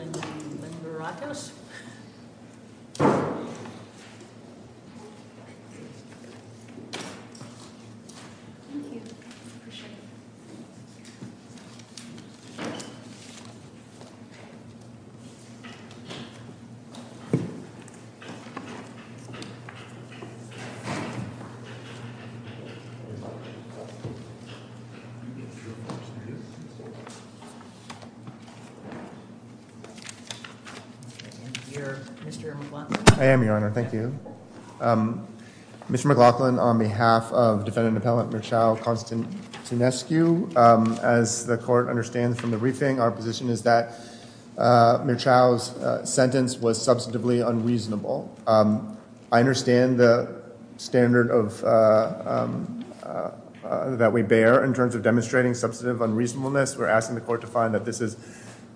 and the Maracos. Mr. McLaughlin, on behalf of defendant appellant Mirchao Constantinescu, as the court understands from the briefing, our position is that Mirchao's sentence was substantively unreasonable. I understand the standard that we bear in terms of demonstrating substantive unreasonableness. We're asking the court to find that this is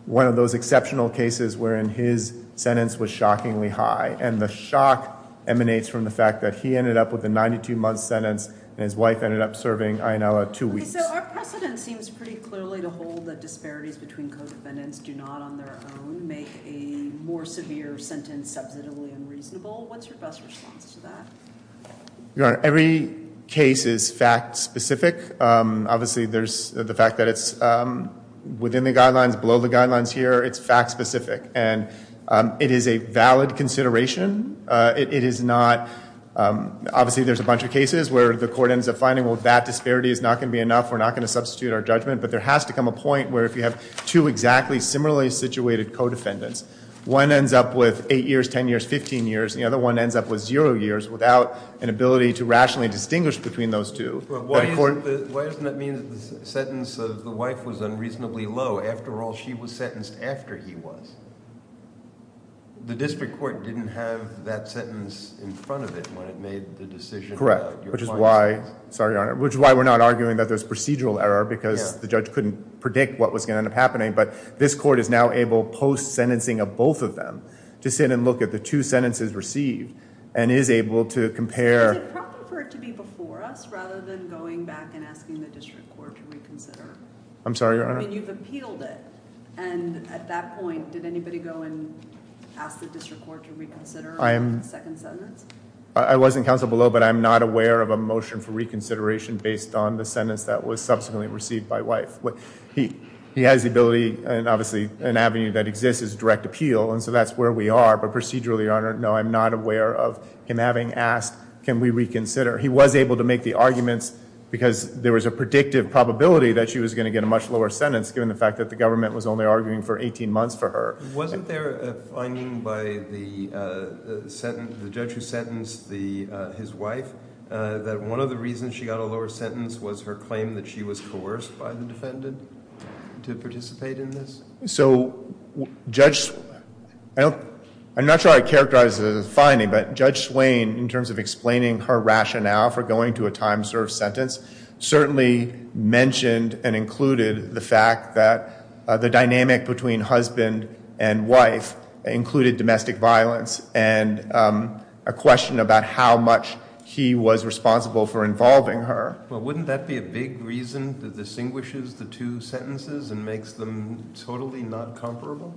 one of those exceptional cases wherein his sentence was shockingly high. And the shock emanates from the fact that he ended up with a 92-month sentence and his wife ended up serving a two weeks. So our precedent seems pretty clearly to hold that disparities between co-defendants do not on their own make a more severe sentence substantively unreasonable. What's your best response to that? Your Honor, every case is fact-specific. Obviously, there's the fact that it's within the guidelines, below the guidelines here. It's fact-specific. And it is a valid consideration. Obviously, there's a bunch of cases where the court ends up finding, well, that disparity is not going to be enough. We're not going to substitute our judgment. But there has to come a point where if you have two exactly similarly situated co-defendants, one ends up with eight years, 10 years, 15 years. And the other one ends up with zero years without an ability to rationally distinguish between those two. But why doesn't that mean that the sentence of the wife was unreasonably low? After all, she was sentenced after he was. The district court didn't have that sentence in front of it when it made the decision. Which is why we're not arguing that there's procedural error because the judge couldn't predict what was going to end up happening. But this court is now able, post-sentencing of both of them, to sit and look at the two sentences received and is able to compare. Is it proper for it to be before us rather than going back and asking the district court to reconsider? I'm sorry, Your Honor? I mean, you've appealed it. And at that point, did anybody go and ask the district court to reconsider the second sentence? I was in counsel below, but I'm not aware of a motion for reconsideration based on the sentence that was subsequently received by wife. He has the ability, and obviously an avenue that exists is direct appeal, and so that's where we are. But procedurally, Your Honor, no, I'm not aware of him having asked, can we reconsider? He was able to make the arguments because there was a predictive probability that she was going to get a much lower sentence given the fact that the government was only arguing for 18 months for her. Wasn't there a finding by the judge who sentenced his wife that one of the reasons she got a lower sentence was her claim that she was coerced by the defendant to participate in this? I'm not sure I characterized it as a finding, but Judge Swain, in terms of explaining her rationale for going to a time-served sentence, certainly mentioned and included the fact that the dynamic between husband and wife included domestic violence and a question about how much he was responsible for involving her. Well, wouldn't that be a big reason that distinguishes the two sentences and makes them totally not comparable?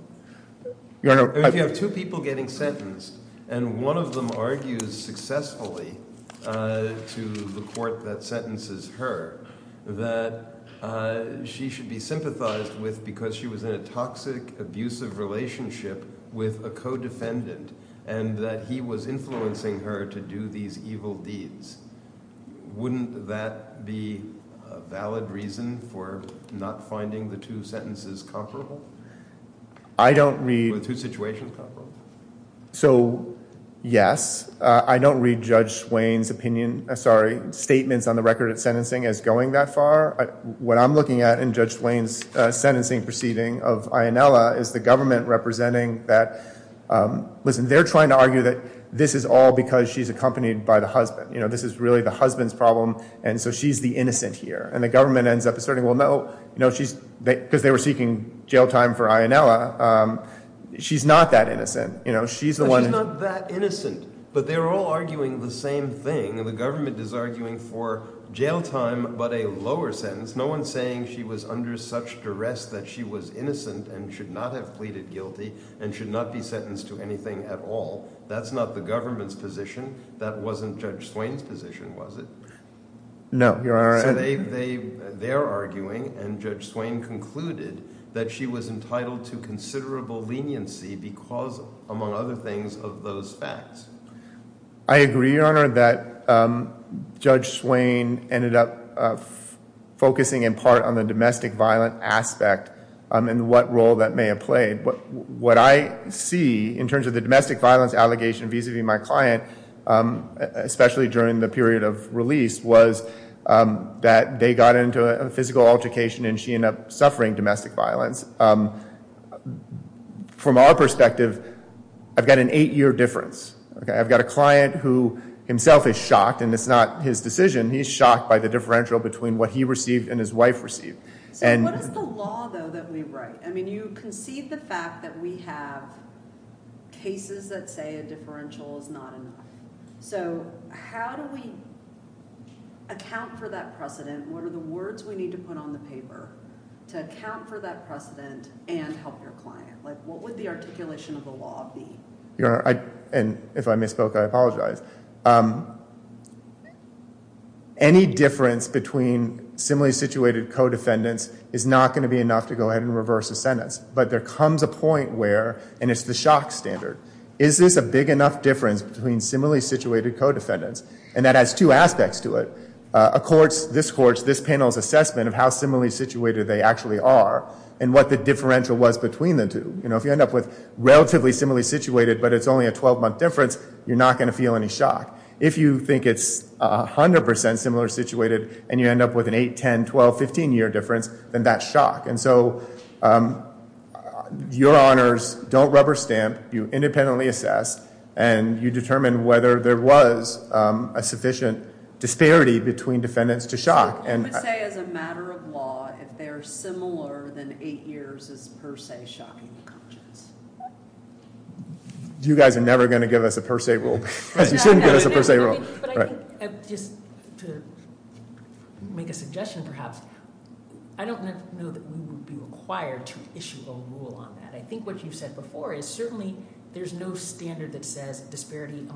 If you have two people getting sentenced and one of them argues successfully to the court that sentences her that she should be sympathized with because she was in a toxic, abusive relationship with a co-defendant and that he was influencing her to do these evil deeds, wouldn't that be a valid reason for not finding the two sentences comparable? I don't read... Or the two situations comparable? So, yes. I don't read Judge Swain's opinion, sorry, statements on the record of sentencing as going that far. What I'm looking at in Judge Swain's sentencing proceeding of Ionella is the government representing that they're trying to argue that this is all because she's accompanied by the husband. This is really the husband's problem and so she's the innocent here. And the government ends up asserting, well, no, because they were seeking jail time for Ionella, she's not that innocent. She's not that innocent, but they're all arguing the same thing. The government is arguing for jail time but a lower sentence. No one's saying she was under such duress that she was innocent and should not have pleaded guilty and should not be sentenced to anything at all. That's not the government's position. That wasn't Judge Swain's position, was it? No. So they're arguing and Judge Swain concluded that she was entitled to considerable leniency because, among other things, of those facts. I agree, Your Honor, that Judge Swain ended up focusing in part on the domestic violent aspect and what role that may have played. What I see in terms of the domestic violence allegation vis-a-vis my client, especially during the period of release, was that they got into a physical altercation and she ended up suffering domestic violence. From our perspective, I've got an eight-year difference. I've got a client who himself is shocked, and it's not his decision, he's shocked by the differential between what he received and his wife received. So what is the law, though, that we write? I mean, you concede the fact that we have cases that say a differential is not enough. So how do we account for that precedent? What are the words we need to put on the paper to account for that precedent and help your client? What would the articulation of the law be? Your Honor, and if I misspoke, I apologize. Any difference between similarly situated co-defendants is not going to be enough to go ahead and reverse a sentence. But there comes a point where, and it's the shock standard, is this a big enough difference between similarly situated co-defendants? And that has two aspects to it. This panel's assessment of how similarly situated they actually are and what the differential was between the two. If you end up with relatively similarly situated but it's only a 12-month difference, you're not going to feel any shock. If you think it's 100% similar situated and you end up with an 8-, 10-, 12-, 15-year difference, then that's shock. And so your honors don't rubber stamp, you independently assess, and you determine whether there was a sufficient disparity between defendants to shock. I would say as a matter of law, if they're similar, then 8 years is per se shocking. You guys are never going to give us a per se rule. You shouldn't give us a per se rule. But I think just to make a suggestion perhaps, I don't know that we would be required to issue a rule on that. I think what you said before is certainly there's no standard that says disparity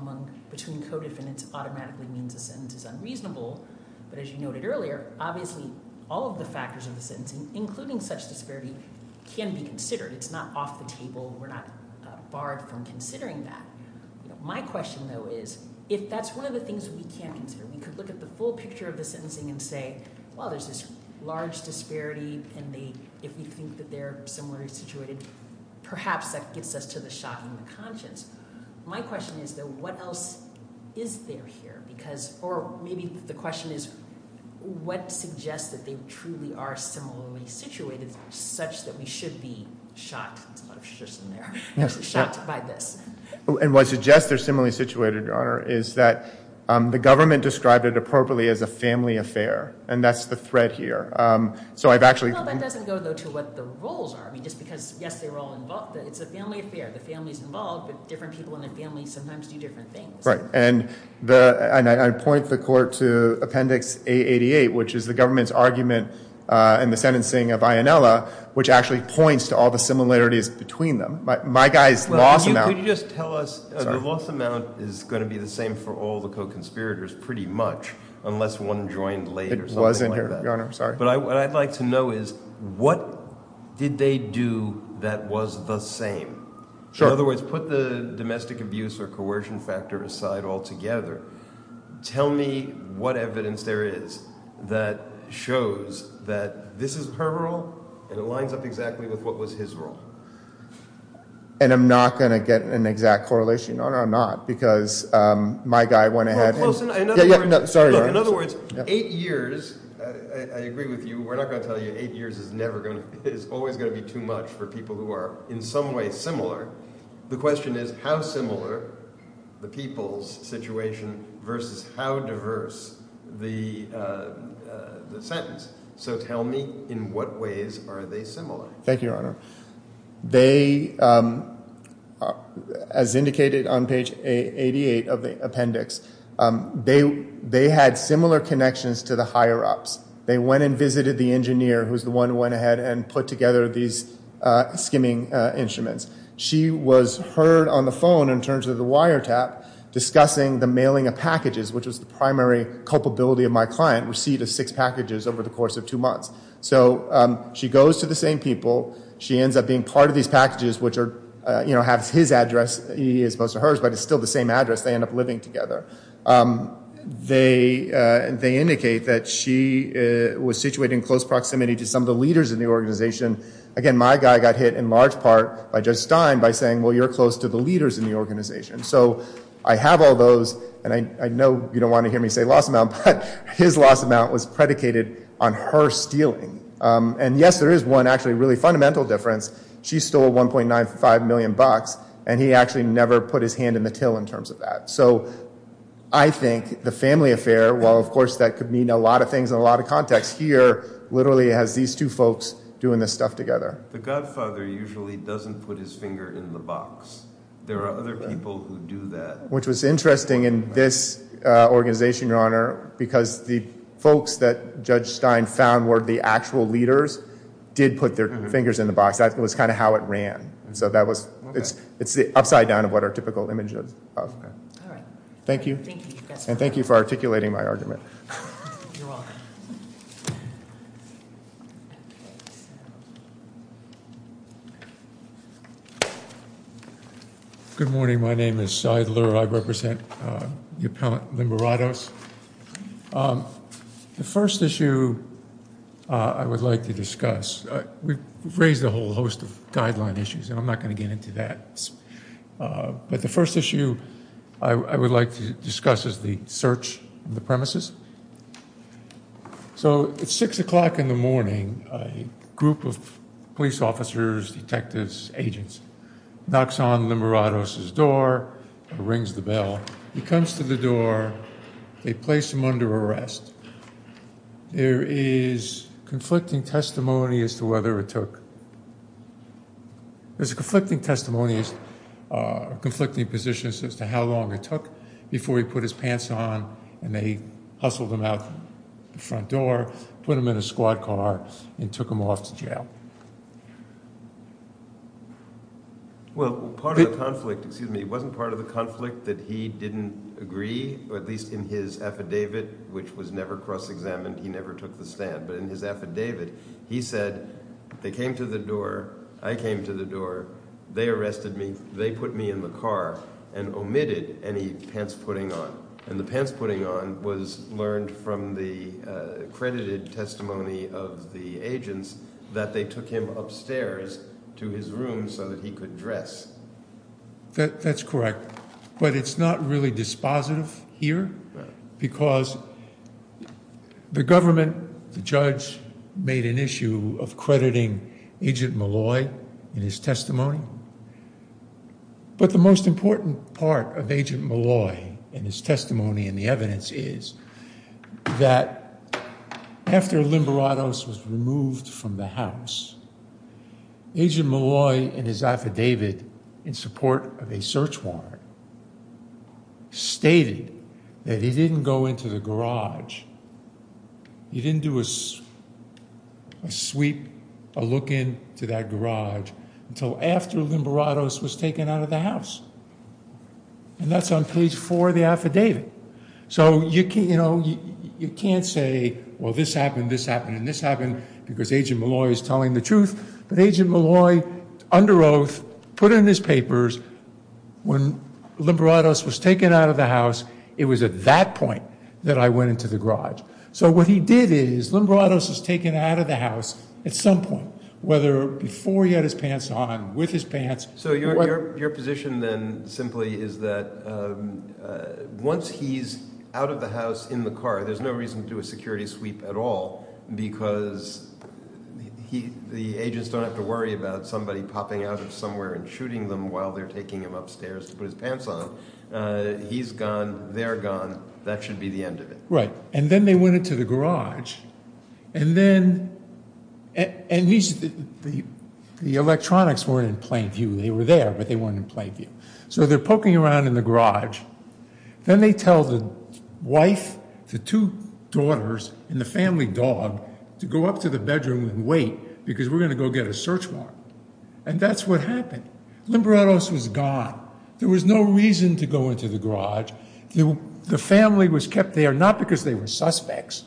between co-defendants automatically means a sentence is unreasonable. But as you noted earlier, obviously all of the factors of the sentencing, including such disparity, can be considered. It's not off the table. We're not barred from considering that. My question, though, is if that's one of the things we can't consider, we could look at the full picture of the sentencing and say, well, there's this large disparity, and if we think that they're similarly situated, perhaps that gets us to the shocking of the conscience. My question is, though, what else is there here? Or maybe the question is, what suggests that they truly are similarly situated such that we should be shocked by this? And what suggests they're similarly situated, Your Honor, is that the government described it appropriately as a family affair, and that's the thread here. So I've actually – Well, that doesn't go, though, to what the roles are. I mean, just because, yes, they were all involved, it's a family affair. The family's involved, but different people in the family sometimes do different things. And I point the court to Appendix A88, which is the government's argument in the sentencing of Ionella, which actually points to all the similarities between them. My guy's loss amount – Could you just tell us – Sorry. The loss amount is going to be the same for all the co-conspirators pretty much, unless one joined late or something like that. It was in here, Your Honor. Sorry. But what I'd like to know is what did they do that was the same? In other words, put the domestic abuse or coercion factor aside altogether. Tell me what evidence there is that shows that this is her role and it lines up exactly with what was his role. And I'm not going to get an exact correlation, Your Honor, I'm not, because my guy went ahead and – Sorry, Your Honor. In other words, eight years – I agree with you. We're not going to tell you eight years is never going to – is always going to be too much for people who are in some way similar. The question is how similar the people's situation versus how diverse the sentence. So tell me in what ways are they similar? Thank you, Your Honor. They, as indicated on page 88 of the appendix, they had similar connections to the higher-ups. They went and visited the engineer who was the one who went ahead and put together these skimming instruments. She was heard on the phone in terms of the wiretap discussing the mailing of packages, which was the primary culpability of my client, receipt of six packages over the course of two months. So she goes to the same people. She ends up being part of these packages, which have his address as opposed to hers, but it's still the same address. They end up living together. They indicate that she was situated in close proximity to some of the leaders in the organization. Again, my guy got hit in large part by Judge Stein by saying, well, you're close to the leaders in the organization. So I have all those, and I know you don't want to hear me say loss amount, but his loss amount was predicated on her stealing. And yes, there is one actually really fundamental difference. She stole $1.95 million, and he actually never put his hand in the till in terms of that. So I think the family affair, while of course that could mean a lot of things in a lot of contexts, here literally has these two folks doing this stuff together. The godfather usually doesn't put his finger in the box. There are other people who do that. Which was interesting in this organization, Your Honor, because the folks that Judge Stein found were the actual leaders did put their fingers in the box. That was kind of how it ran. So it's the upside down of what our typical image is of. All right. Thank you. And thank you for articulating my argument. You're welcome. Thank you. Good morning. My name is Seidler. I represent the appellant Limeratos. The first issue I would like to discuss, we've raised a whole host of guideline issues, and I'm not going to get into that. But the first issue I would like to discuss is the search of the premises. So it's 6 o'clock in the morning. A group of police officers, detectives, agents knocks on Limeratos' door, rings the bell. He comes to the door. They place him under arrest. There is conflicting testimony as to whether it took. There's conflicting testimonies, conflicting positions as to how long it took before he put his pants on and they hustled him out the front door, put him in a squad car, and took him off to jail. Well, part of the conflict, excuse me, it wasn't part of the conflict that he didn't agree, or at least in his affidavit, which was never cross-examined, he never took the stand. But in his affidavit, he said they came to the door, I came to the door, they arrested me, they put me in the car and omitted any pants putting on. And the pants putting on was learned from the accredited testimony of the agents that they took him upstairs to his room so that he could dress. That's correct. But it's not really dispositive here because the government, the judge, made an issue of crediting Agent Molloy in his testimony. But the most important part of Agent Molloy and his testimony and the evidence is that after Limeratos was removed from the house, Agent Molloy, in his affidavit, in support of a search warrant, stated that he didn't go into the garage. He didn't do a sweep, a look into that garage, until after Limeratos was taken out of the house. And that's on page four of the affidavit. So you can't say, well, this happened, this happened, and this happened, because Agent Molloy is telling the truth. But Agent Molloy, under oath, put in his papers when Limeratos was taken out of the house, it was at that point that I went into the garage. So what he did is Limeratos was taken out of the house at some point, whether before he had his pants on, with his pants. So your position then simply is that once he's out of the house in the car, there's no reason to do a security sweep at all, because the agents don't have to worry about somebody popping out of somewhere and shooting them while they're taking him upstairs to put his pants on. He's gone, they're gone, that should be the end of it. Right, and then they went into the garage, and then the electronics weren't in plain view. They were there, but they weren't in plain view. So they're poking around in the garage. Then they tell the wife, the two daughters, and the family dog to go up to the bedroom and wait, because we're going to go get a search warrant. And that's what happened. Limeratos was gone. There was no reason to go into the garage. The family was kept there not because they were suspects.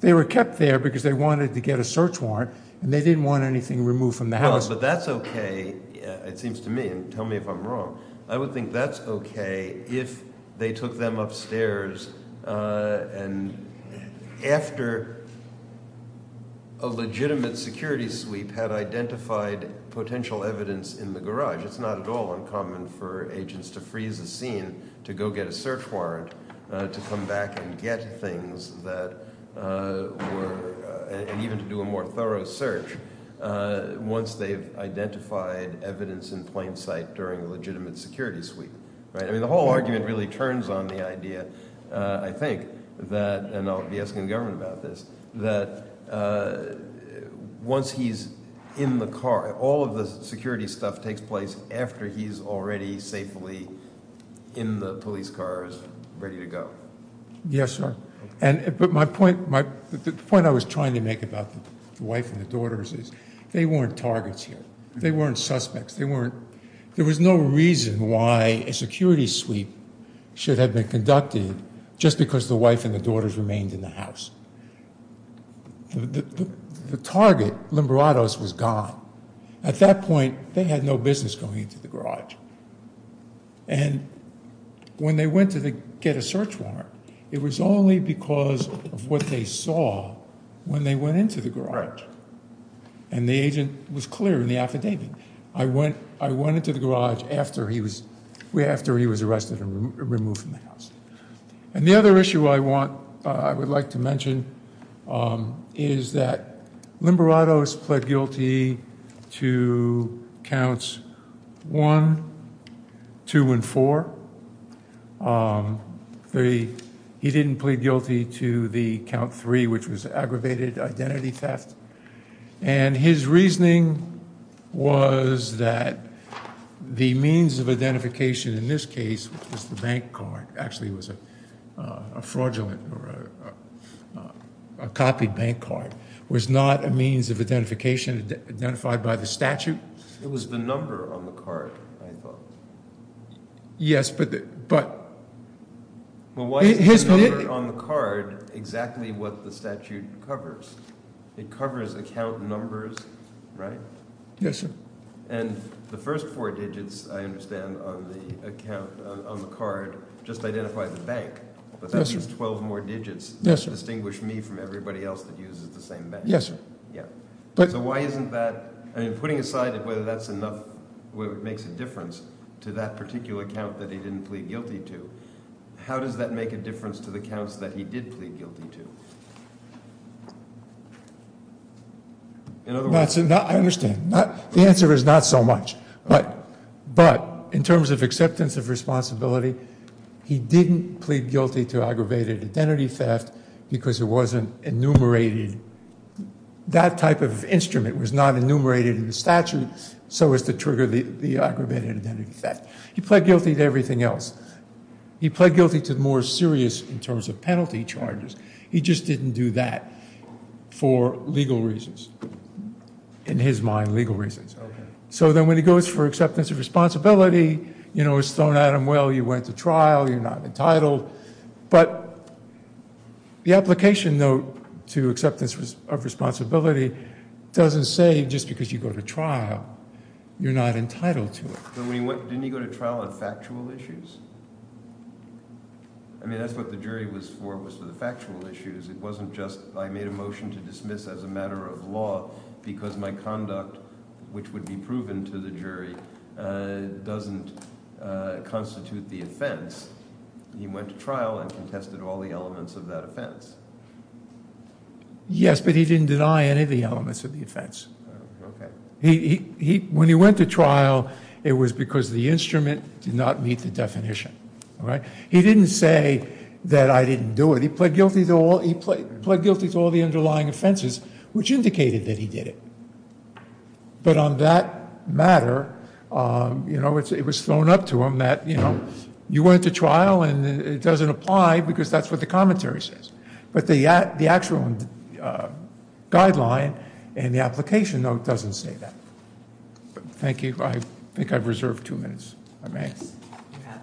They were kept there because they wanted to get a search warrant, and they didn't want anything removed from the house. But that's okay, it seems to me, and tell me if I'm wrong. I would think that's okay if they took them upstairs, and after a legitimate security sweep had identified potential evidence in the garage. It's not at all uncommon for agents to freeze a scene to go get a search warrant, to come back and get things that were—and even to do a more thorough search once they've identified evidence in plain sight during a legitimate security sweep. I mean the whole argument really turns on the idea, I think, that—and I'll be asking the government about this— that once he's in the car, all of the security stuff takes place after he's already safely in the police car and ready to go. Yes, sir. But the point I was trying to make about the wife and the daughters is they weren't targets here. They weren't suspects. There was no reason why a security sweep should have been conducted just because the wife and the daughters remained in the house. The target, Limberatos, was gone. At that point, they had no business going into the garage. And when they went to get a search warrant, it was only because of what they saw when they went into the garage. And the agent was clear in the affidavit. I went into the garage after he was arrested and removed from the house. And the other issue I would like to mention is that Limberatos pled guilty to counts one, two, and four. He didn't plead guilty to the count three, which was aggravated identity theft. And his reasoning was that the means of identification in this case was the bank card. Actually, it was a fraudulent or a copied bank card. It was not a means of identification identified by the statute. It was the number on the card, I thought. Yes, but... Well, why is the number on the card exactly what the statute covers? It covers account numbers, right? Yes, sir. And the first four digits, I understand, on the account, on the card, just identify the bank. But that means 12 more digits. Yes, sir. Distinguish me from everybody else that uses the same bank. Yes, sir. Yeah. So why isn't that? I mean, putting aside whether that's enough, whether it makes a difference to that particular count that he didn't plead guilty to, how does that make a difference to the counts that he did plead guilty to? In other words... I understand. The answer is not so much. But in terms of acceptance of responsibility, he didn't plead guilty to aggravated identity theft because it wasn't enumerated. That type of instrument was not enumerated in the statute so as to trigger the aggravated identity theft. He pled guilty to everything else. He pled guilty to the more serious in terms of penalty charges. He just didn't do that for legal reasons. In his mind, legal reasons. Okay. So then when he goes for acceptance of responsibility, you know, it's thrown at him, well, you went to trial, you're not entitled. But the application, though, to acceptance of responsibility doesn't say just because you go to trial, you're not entitled to it. Didn't he go to trial on factual issues? I mean, that's what the jury was for, was for the factual issues. It wasn't just I made a motion to dismiss as a matter of law because my conduct, which would be proven to the jury, doesn't constitute the offense. He went to trial and contested all the elements of that offense. Yes, but he didn't deny any of the elements of the offense. Okay. When he went to trial, it was because the instrument did not meet the definition. All right. He didn't say that I didn't do it. He pled guilty to all the underlying offenses, which indicated that he did it. But on that matter, you know, it was thrown up to him that, you know, you went to trial and it doesn't apply because that's what the commentary says. But the actual guideline in the application, though, doesn't say that. Thank you. I think I've reserved two minutes. If I may. Yes, you have.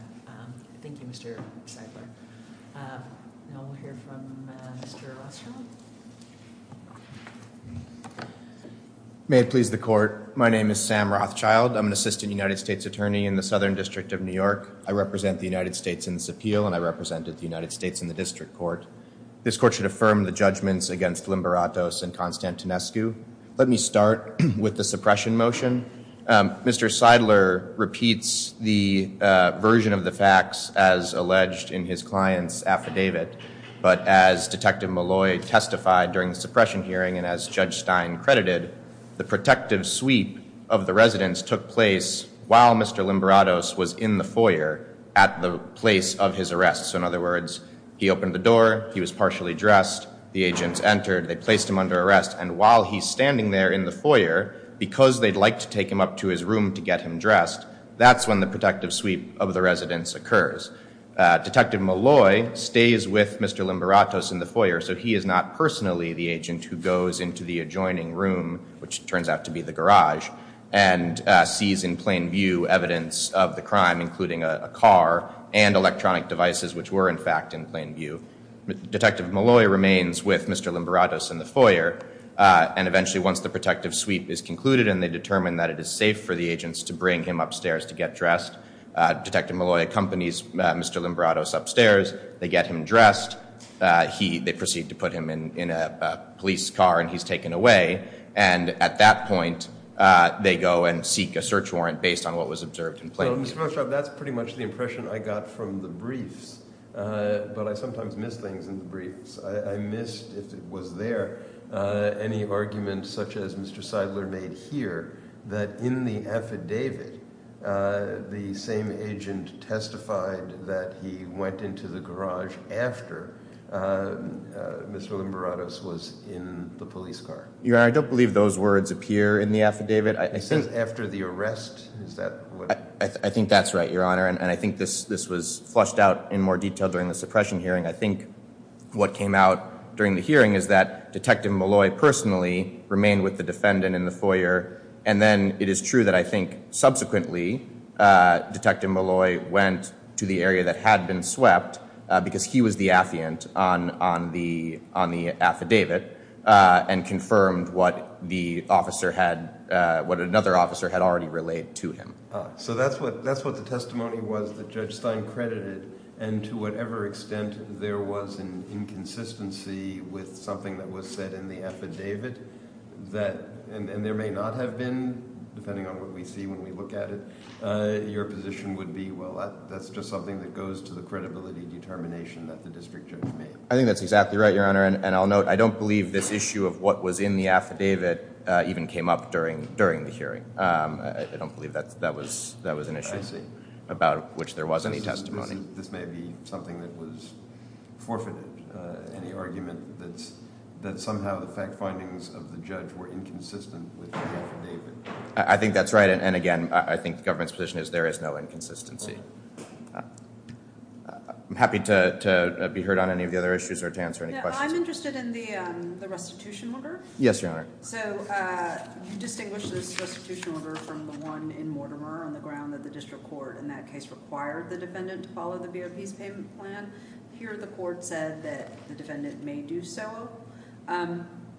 Thank you, Mr. Seidler. Now we'll hear from Mr. Rothschild. May it please the court. My name is Sam Rothschild. I'm an assistant United States attorney in the Southern District of New York. I represent the United States in this appeal, and I represented the United States in the district court. This court should affirm the judgments against Limberatos and Konstantinescu. Let me start with the suppression motion. Mr. Seidler repeats the version of the facts as alleged in his client's affidavit. But as Detective Malloy testified during the suppression hearing and as Judge Stein credited, the protective sweep of the residence took place while Mr. Limberatos was in the foyer at the place of his arrest. So in other words, he opened the door, he was partially dressed, the agents entered, they placed him under arrest, and while he's standing there in the foyer, because they'd like to take him up to his room to get him dressed, that's when the protective sweep of the residence occurs. Detective Malloy stays with Mr. Limberatos in the foyer, so he is not personally the agent who goes into the adjoining room, which turns out to be the garage, and sees in plain view evidence of the crime, including a car and electronic devices, which were in fact in plain view. Detective Malloy remains with Mr. Limberatos in the foyer, and eventually once the protective sweep is concluded and they determine that it is safe for the agents to bring him upstairs to get dressed, Detective Malloy accompanies Mr. Limberatos upstairs, they get him dressed, they proceed to put him in a police car and he's taken away, and at that point they go and seek a search warrant based on what was observed in plain view. So Mr. Moshav, that's pretty much the impression I got from the briefs, but I sometimes miss things in the briefs. I missed, if it was there, any argument such as Mr. Seidler made here, that in the affidavit the same agent testified that he went into the garage after Mr. Limberatos was in the police car. Your Honor, I don't believe those words appear in the affidavit. It says after the arrest, is that what? I think that's right, Your Honor, and I think this was flushed out in more detail during the suppression hearing. I think what came out during the hearing is that Detective Malloy personally remained with the defendant in the foyer, and then it is true that I think subsequently Detective Malloy went to the area that had been swept because he was the affiant on the affidavit and confirmed what another officer had already relayed to him. So that's what the testimony was that Judge Stein credited, and to whatever extent there was an inconsistency with something that was said in the affidavit, and there may not have been, depending on what we see when we look at it, your position would be, well, that's just something that goes to the credibility determination that the district judge made. I think that's exactly right, Your Honor, and I'll note I don't believe this issue of what was in the affidavit even came up during the hearing. I don't believe that was an issue about which there was any testimony. This may be something that was forfeited, any argument that somehow the fact findings of the judge were inconsistent with the affidavit. I think that's right, and again, I think the government's position is there is no inconsistency. I'm happy to be heard on any of the other issues or to answer any questions. I'm interested in the restitution order. Yes, Your Honor. So you distinguish this restitution order from the one in Mortimer on the ground that the district court in that case required the defendant to follow the BOP's payment plan. Here the court said that the defendant may do so.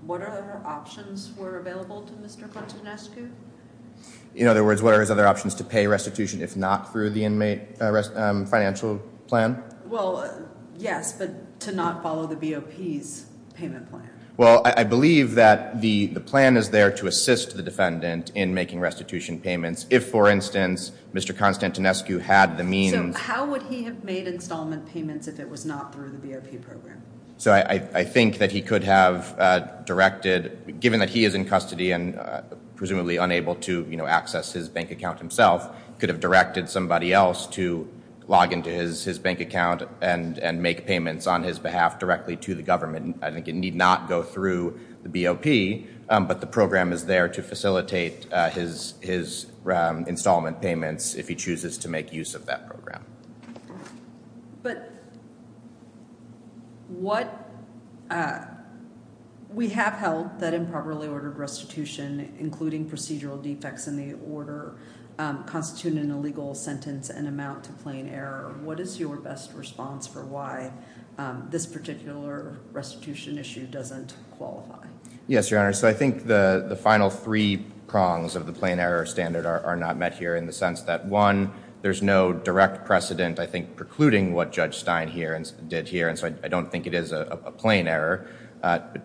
What other options were available to Mr. Quantonescu? In other words, what are his other options to pay restitution if not through the inmate financial plan? Well, yes, but to not follow the BOP's payment plan. Well, I believe that the plan is there to assist the defendant in making restitution payments if, for instance, Mr. Quantonescu had the means. So how would he have made installment payments if it was not through the BOP program? So I think that he could have directed, given that he is in custody and presumably unable to access his bank account himself, could have directed somebody else to log into his bank account and make payments on his behalf directly to the government. I think it need not go through the BOP, but the program is there to facilitate his installment payments if he chooses to make use of that program. But we have held that improperly ordered restitution, including procedural defects in the order, constitute an illegal sentence and amount to plain error. What is your best response for why this particular restitution issue doesn't qualify? Yes, Your Honor. So I think the final three prongs of the plain error standard are not met here in the sense that, one, there's no direct precedent, I think, precluding what Judge Stein did here. And so I don't think it is a plain error.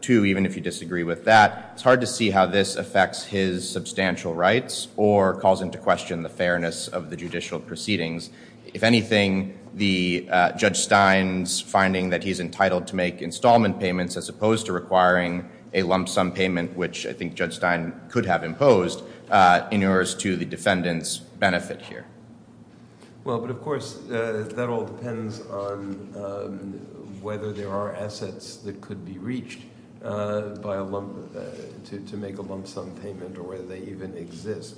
Two, even if you disagree with that, it's hard to see how this affects his substantial rights or calls into question the fairness of the judicial proceedings. If anything, the Judge Stein's finding that he's entitled to make installment payments, as opposed to requiring a lump sum payment, which I think Judge Stein could have imposed, inures to the defendant's benefit here. Well, but, of course, that all depends on whether there are assets that could be reached to make a lump sum payment or whether they even exist.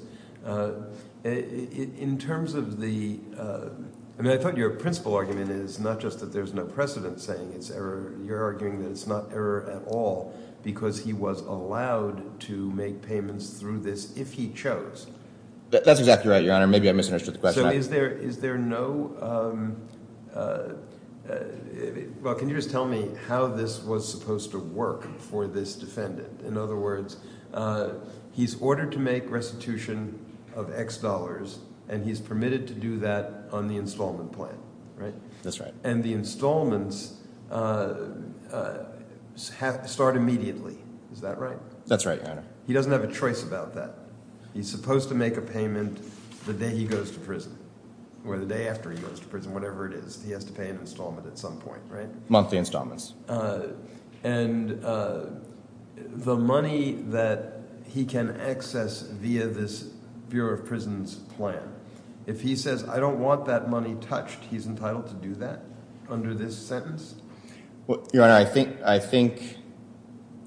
In terms of the – I mean, I thought your principal argument is not just that there's no precedent saying it's error. You're arguing that it's not error at all because he was allowed to make payments through this if he chose. That's exactly right, Your Honor. Maybe I misunderstood the question. So is there no – well, can you just tell me how this was supposed to work for this defendant? In other words, he's ordered to make restitution of X dollars, and he's permitted to do that on the installment plan, right? That's right. And the installments start immediately. Is that right? That's right, Your Honor. He doesn't have a choice about that. He's supposed to make a payment the day he goes to prison or the day after he goes to prison, whatever it is. He has to pay an installment at some point, right? Monthly installments. And the money that he can access via this Bureau of Prisons plan, if he says I don't want that money touched, he's entitled to do that under this sentence? Your Honor, I think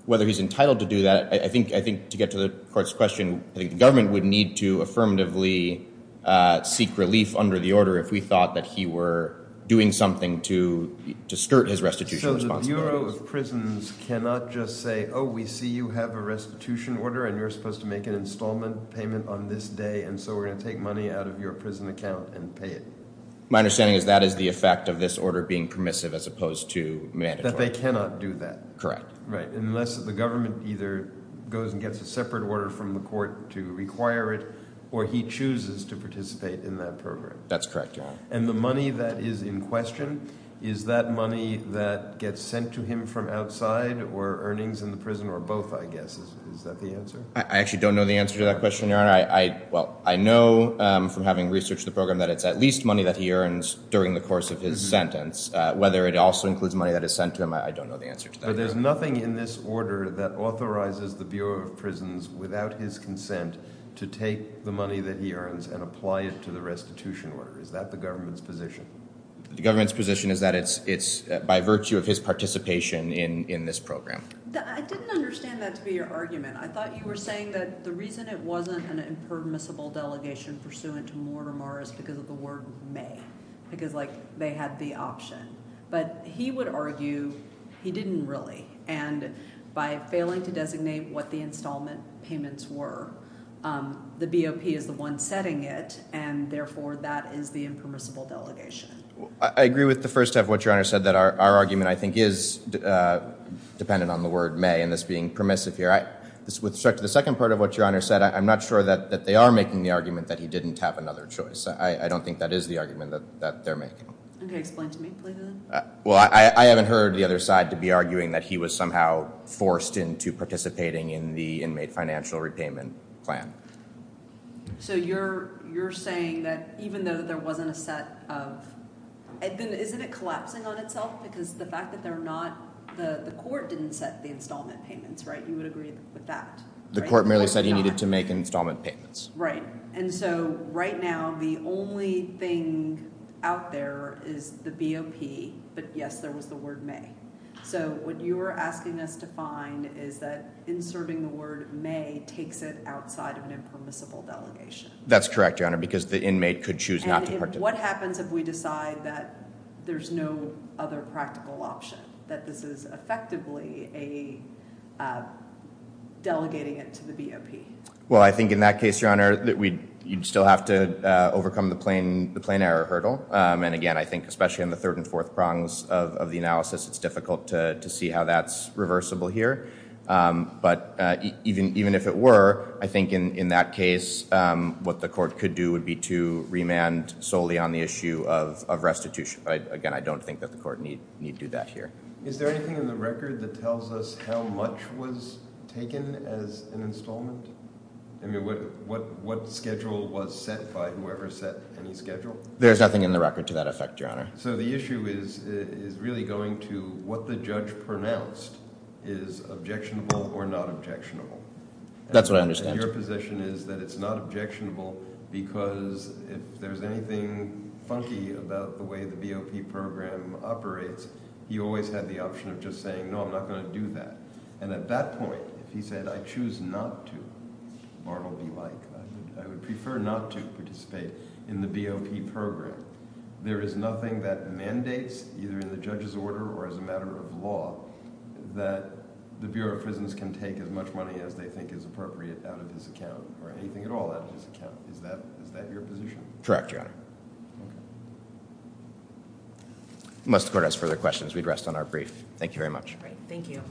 whether he's entitled to do that – I think to get to the court's question, I think the government would need to affirmatively seek relief under the order if we thought that he were doing something to skirt his restitution as well. So the Bureau of Prisons cannot just say, oh, we see you have a restitution order, and you're supposed to make an installment payment on this day, and so we're going to take money out of your prison account and pay it? My understanding is that is the effect of this order being permissive as opposed to mandatory. That they cannot do that. Correct. Right, unless the government either goes and gets a separate order from the court to require it, or he chooses to participate in that program. That's correct, Your Honor. And the money that is in question, is that money that gets sent to him from outside or earnings in the prison or both, I guess? Is that the answer? I actually don't know the answer to that question, Your Honor. Well, I know from having researched the program that it's at least money that he earns during the course of his sentence. Whether it also includes money that is sent to him, I don't know the answer to that. So there's nothing in this order that authorizes the Bureau of Prisons, without his consent, to take the money that he earns and apply it to the restitution order? Is that the government's position? The government's position is that it's by virtue of his participation in this program. I didn't understand that to be your argument. I thought you were saying that the reason it wasn't an impermissible delegation pursuant to Mortimer is because of the word may. Because they had the option. But he would argue he didn't really. And by failing to designate what the installment payments were, the BOP is the one setting it, and therefore that is the impermissible delegation. I agree with the first half of what Your Honor said, that our argument, I think, is dependent on the word may and this being permissive here. With respect to the second part of what Your Honor said, I'm not sure that they are making the argument that he didn't have another choice. I don't think that is the argument that they're making. Can you explain to me, please? Well, I haven't heard the other side to be arguing that he was somehow forced into participating in the inmate financial repayment plan. So you're saying that even though there wasn't a set of – isn't it collapsing on itself? Because the fact that they're not – the court didn't set the installment payments, right? You would agree with that, right? The court merely said he needed to make installment payments. Right. And so right now the only thing out there is the BOP. But, yes, there was the word may. So what you are asking us to find is that inserting the word may takes it outside of an impermissible delegation. That's correct, Your Honor, because the inmate could choose not to participate. And what happens if we decide that there's no other practical option, that this is effectively delegating it to the BOP? Well, I think in that case, Your Honor, you'd still have to overcome the plain error hurdle. And, again, I think especially in the third and fourth prongs of the analysis, it's difficult to see how that's reversible here. But even if it were, I think in that case what the court could do would be to remand solely on the issue of restitution. Again, I don't think that the court need do that here. Is there anything in the record that tells us how much was taken as an installment? I mean, what schedule was set by whoever set any schedule? There's nothing in the record to that effect, Your Honor. So the issue is really going to what the judge pronounced is objectionable or not objectionable. That's what I understand. And your position is that it's not objectionable because if there's anything funky about the way the BOP program operates, he always had the option of just saying, no, I'm not going to do that. And at that point, if he said, I choose not to, or it will be like, I would prefer not to participate in the BOP program, there is nothing that mandates either in the judge's order or as a matter of law that the Bureau of Prisons can take as much money as they think is appropriate out of his account or anything at all out of his account. Is that your position? Correct, Your Honor. Okay. Unless the court has further questions, we'd rest on our brief. Thank you very much. Thank you.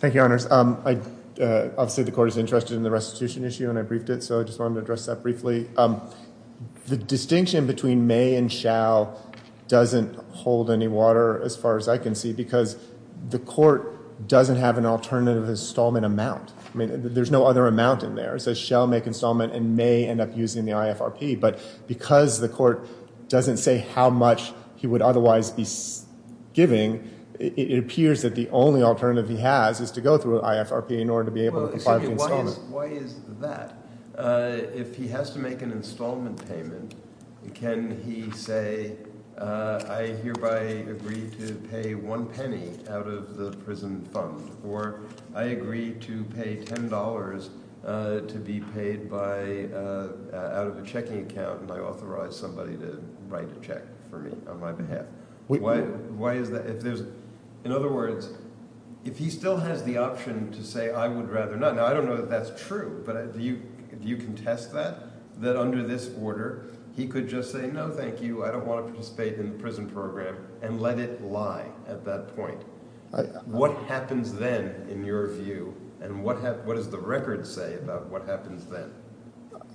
Thank you, Your Honors. Obviously, the court is interested in the restitution issue, and I briefed it, so I just wanted to address that briefly. The distinction between may and shall doesn't hold any water, as far as I can see, because the court doesn't have an alternative installment amount. I mean, there's no other amount in there. It says shall make installment and may end up using the IFRP. But because the court doesn't say how much he would otherwise be giving, it appears that the only alternative he has is to go through an IFRP in order to be able to provide the installment. Well, excuse me. Why is that? If he has to make an installment payment, can he say, I hereby agree to pay one penny out of the prison fund, or I agree to pay $10 to be paid out of a checking account, and I authorize somebody to write a check for me on my behalf? Why is that? In other words, if he still has the option to say, I would rather not. Now, I don't know that that's true, but do you contest that, that under this order he could just say, no, thank you, I don't want to participate in the prison program and let it lie at that point? What happens then, in your view, and what does the record say about what happens then?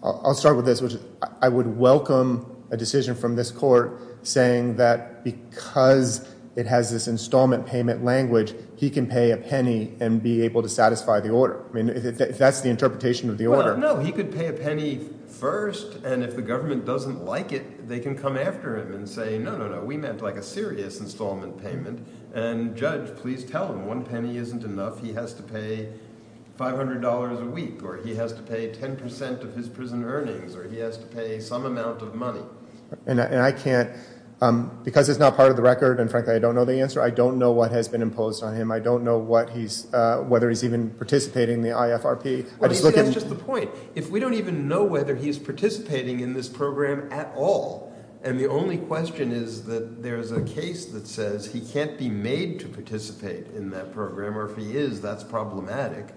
I'll start with this, which is I would welcome a decision from this court saying that because it has this installment payment language, he can pay a penny and be able to satisfy the order. I mean, if that's the interpretation of the order. No, he could pay a penny first, and if the government doesn't like it, they can come after him and say, no, no, no, we meant like a serious installment payment, and judge, please tell him one penny isn't enough. He has to pay $500 a week, or he has to pay 10 percent of his prison earnings, or he has to pay some amount of money. And I can't, because it's not part of the record, and frankly I don't know the answer, I don't know what has been imposed on him. I don't know whether he's even participating in the IFRP. That's just the point. If we don't even know whether he's participating in this program at all, and the only question is that there's a case that says he can't be made to participate in that program, or if he is, that's problematic,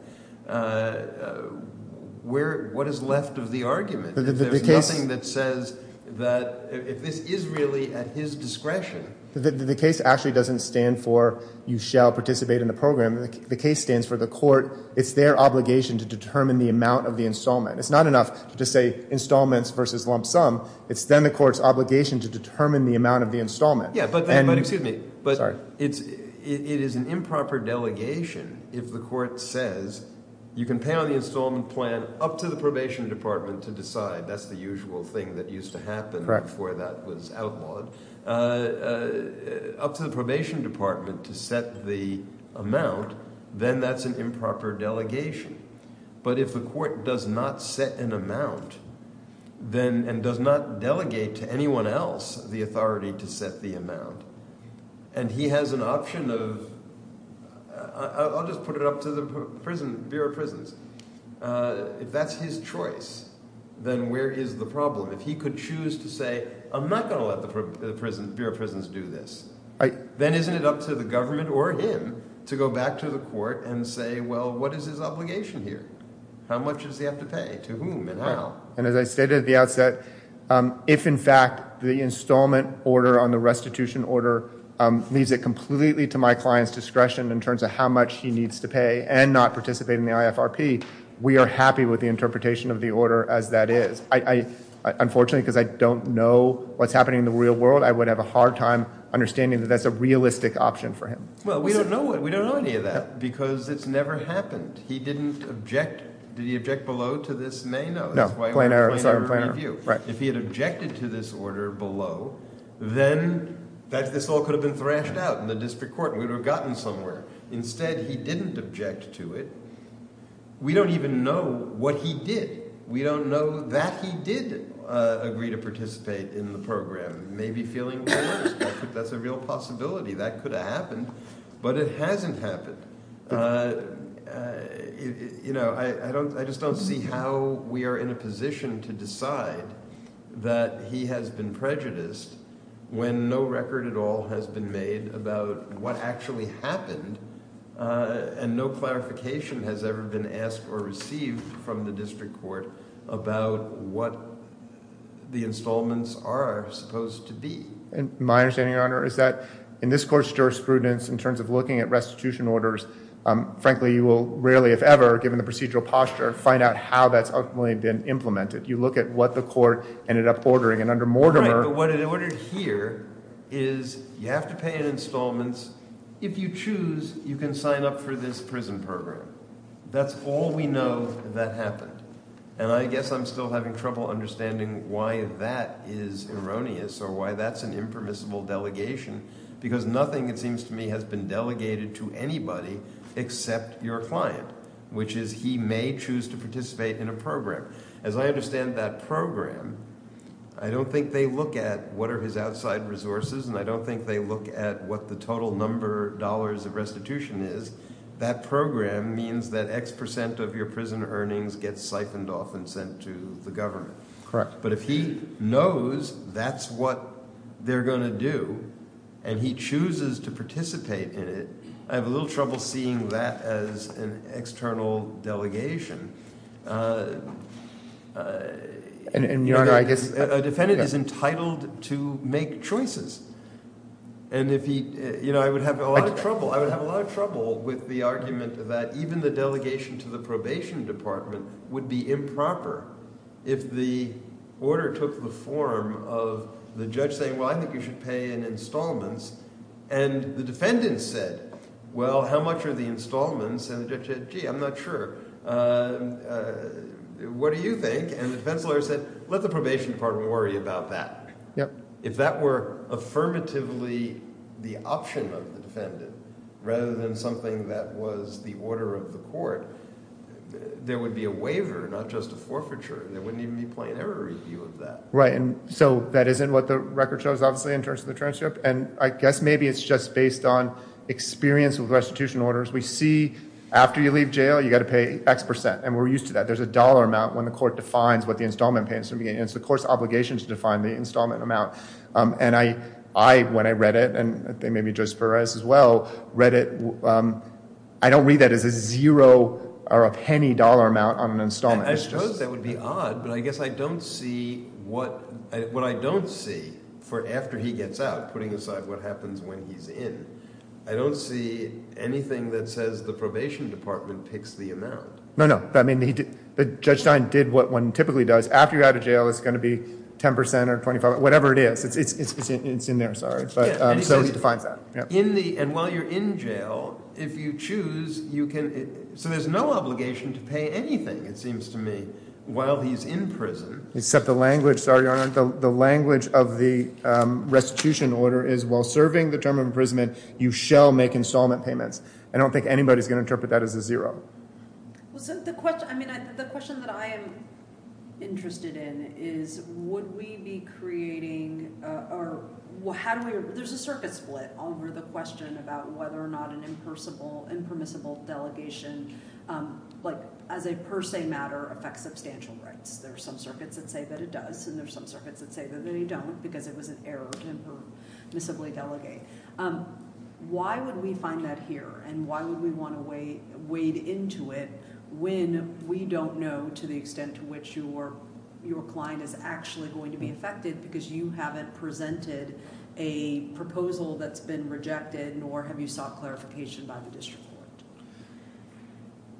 what is left of the argument? There's nothing that says that if this is really at his discretion. The case actually doesn't stand for you shall participate in the program. The case stands for the court. It's their obligation to determine the amount of the installment. It's not enough to just say installments versus lump sum. It's then the court's obligation to determine the amount of the installment. Yeah, but excuse me. Sorry. It is an improper delegation if the court says you can pay on the installment plan up to the probation department to decide. That's the usual thing that used to happen before that was outlawed. Up to the probation department to set the amount, then that's an improper delegation. But if the court does not set an amount and does not delegate to anyone else the authority to set the amount, and he has an option of – I'll just put it up to the Bureau of Prisons. If that's his choice, then where is the problem? If he could choose to say I'm not going to let the Bureau of Prisons do this, then isn't it up to the government or him to go back to the court and say, well, what is his obligation here? How much does he have to pay? To whom and how? And as I stated at the outset, if in fact the installment order on the restitution order leaves it completely to my client's discretion in terms of how much he needs to pay and not participate in the IFRP, we are happy with the interpretation of the order as that is. Unfortunately, because I don't know what's happening in the real world, I would have a hard time understanding that that's a realistic option for him. Well, we don't know any of that because it's never happened. He didn't object. Did he object below to this may? No. Plain error. If he had objected to this order below, then this all could have been thrashed out in the district court. We would have gotten somewhere. Instead, he didn't object to it. We don't even know what he did. We don't know that he did agree to participate in the program. Maybe feeling that's a real possibility. That could have happened, but it hasn't happened. I just don't see how we are in a position to decide that he has been prejudiced when no record at all has been made about what actually happened and no clarification has ever been asked or received from the district court about what the installments are supposed to be. My understanding, Your Honor, is that in this court's jurisprudence, in terms of looking at restitution orders, frankly, you will rarely, if ever, given the procedural posture, find out how that's ultimately been implemented. You look at what the court ended up ordering, and under Mortimer— Right, but what it ordered here is you have to pay in installments. If you choose, you can sign up for this prison program. That's all we know that happened. And I guess I'm still having trouble understanding why that is erroneous or why that's an impermissible delegation because nothing, it seems to me, has been delegated to anybody except your client, which is he may choose to participate in a program. As I understand that program, I don't think they look at what are his outside resources, and I don't think they look at what the total number of dollars of restitution is. That program means that X percent of your prison earnings gets siphoned off and sent to the government. But if he knows that's what they're going to do, and he chooses to participate in it, I have a little trouble seeing that as an external delegation. A defendant is entitled to make choices. I would have a lot of trouble with the argument that even the delegation to the probation department would be improper if the order took the form of the judge saying, well, I think you should pay in installments. And the defendant said, well, how much are the installments? And the judge said, gee, I'm not sure. What do you think? And the defense lawyer said, let the probation department worry about that. If that were affirmatively the option of the defendant rather than something that was the order of the court, there would be a waiver, not just a forfeiture, and there wouldn't even be a plain error review of that. Right, and so that isn't what the record shows, obviously, in terms of the transcript. And I guess maybe it's just based on experience with restitution orders. We see after you leave jail, you've got to pay X percent, and we're used to that. There's a dollar amount when the court defines what the installment payments are going to be. And it's the court's obligation to define the installment amount. And I, when I read it, and I think maybe Judge Perez as well read it, I don't read that as a zero or a penny dollar amount on an installment. I suppose that would be odd, but I guess I don't see what I don't see for after he gets out, putting aside what happens when he's in. I don't see anything that says the probation department picks the amount. No, no. Judge Stein did what one typically does. After you're out of jail, it's going to be 10 percent or 25, whatever it is. It's in there, sorry. So he defines that. And while you're in jail, if you choose, you can – so there's no obligation to pay anything, it seems to me, while he's in prison. Except the language, sorry, Your Honor, the language of the restitution order is while serving the term of imprisonment, you shall make installment payments. I don't think anybody's going to interpret that as a zero. The question that I am interested in is would we be creating – or how do we – there's a circuit split over the question about whether or not an impermissible delegation, like as a per se matter, affects substantial rights. There are some circuits that say that it does, and there are some circuits that say that they don't because it was an error to impermissibly delegate. Why would we find that here and why would we want to wade into it when we don't know to the extent to which your client is actually going to be affected because you haven't presented a proposal that's been rejected nor have you sought clarification by the district court?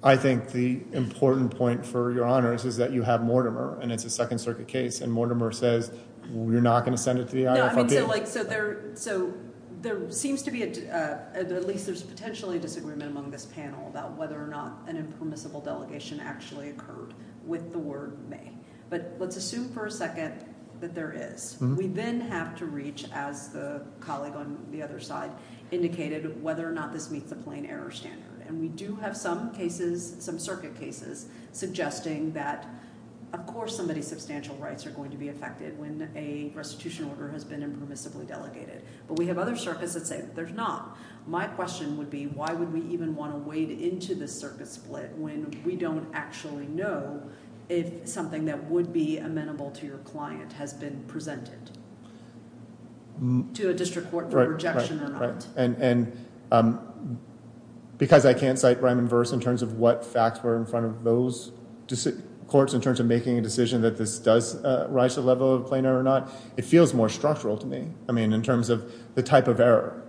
I think the important point for Your Honors is that you have Mortimer and it's a Second Circuit case and Mortimer says we're not going to send it to the IFRP. So there seems to be – at least there's potentially a disagreement among this panel about whether or not an impermissible delegation actually occurred with the word may. But let's assume for a second that there is. We then have to reach, as the colleague on the other side indicated, whether or not this meets the plain error standard. And we do have some cases, some circuit cases, suggesting that, of course, somebody's substantial rights are going to be affected when a restitution order has been impermissibly delegated. But we have other circuits that say there's not. My question would be why would we even want to wade into this circuit split when we don't actually know if something that would be amenable to your client has been presented to a district court for rejection or not. And because I can't cite rhyme and verse in terms of what facts were in front of those courts in terms of making a decision that this does rise to the level of plain error or not, it feels more structural to me in terms of the type of error,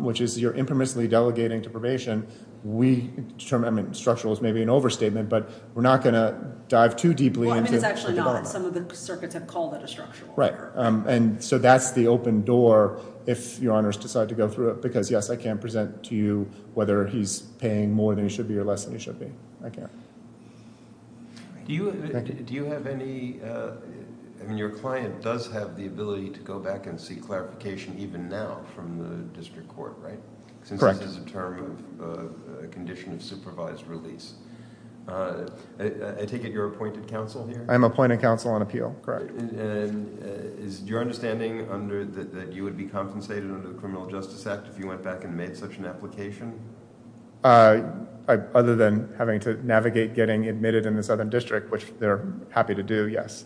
which is you're impermissibly delegating to probation. We determine – I mean structural is maybe an overstatement, but we're not going to dive too deeply into the development. Well, I mean it's actually not. Some of the circuits have called it a structural error. Right. And so that's the open door if your honors decide to go through it because, yes, I can't present to you whether he's paying more than he should be or less than he should be. I can't. Do you have any – I mean your client does have the ability to go back and seek clarification even now from the district court, right? Correct. Since this is a term of condition of supervised release. I take it you're appointed counsel here? I'm appointed counsel on appeal. Correct. And is your understanding that you would be compensated under the Criminal Justice Act if you went back and made such an application? Other than having to navigate getting admitted in the southern district, which they're happy to do, yes.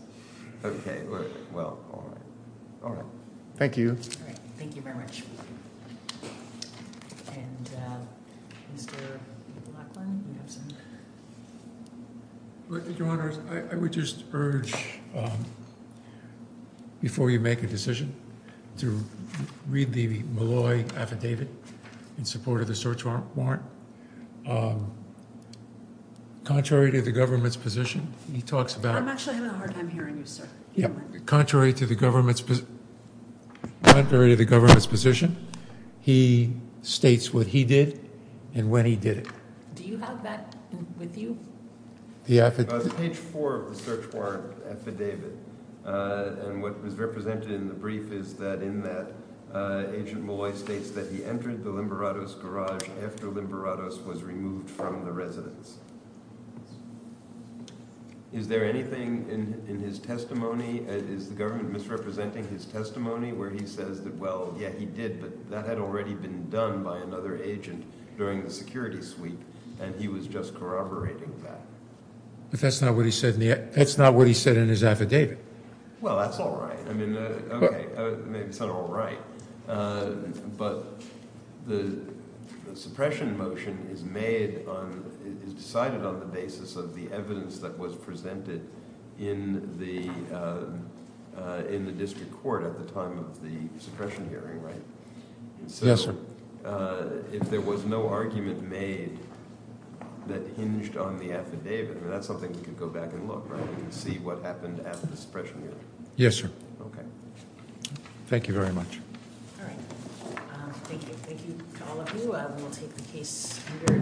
Okay. Well, all right. Thank you. All right. Thank you very much. And Mr. Lachlan, you have something? Your honors, I would just urge, before you make a decision, to read the Malloy affidavit in support of the search warrant. Contrary to the government's position, he talks about – I'm actually having a hard time hearing you, sir. Contrary to the government's position, he states what he did and when he did it. Do you have that with you? Page 4 of the search warrant affidavit. And what was represented in the brief is that in that, Agent Malloy states that he entered the Limberatos garage after Limberatos was removed from the residence. Is there anything in his testimony – is the government misrepresenting his testimony where he says that, well, yeah, he did, but that had already been done by another agent during the security sweep, and he was just corroborating that? But that's not what he said in his affidavit. Well, that's all right. I mean, okay. It's not all right. But the suppression motion is made on – is decided on the basis of the evidence that was presented in the district court at the time of the suppression hearing, right? Yes, sir. But if there was no argument made that hinged on the affidavit, that's something we could go back and look, right, and see what happened at the suppression hearing. Yes, sir. Okay. Thank you very much. All right. Thank you. Thank you to all of you. We'll take the case under advisement.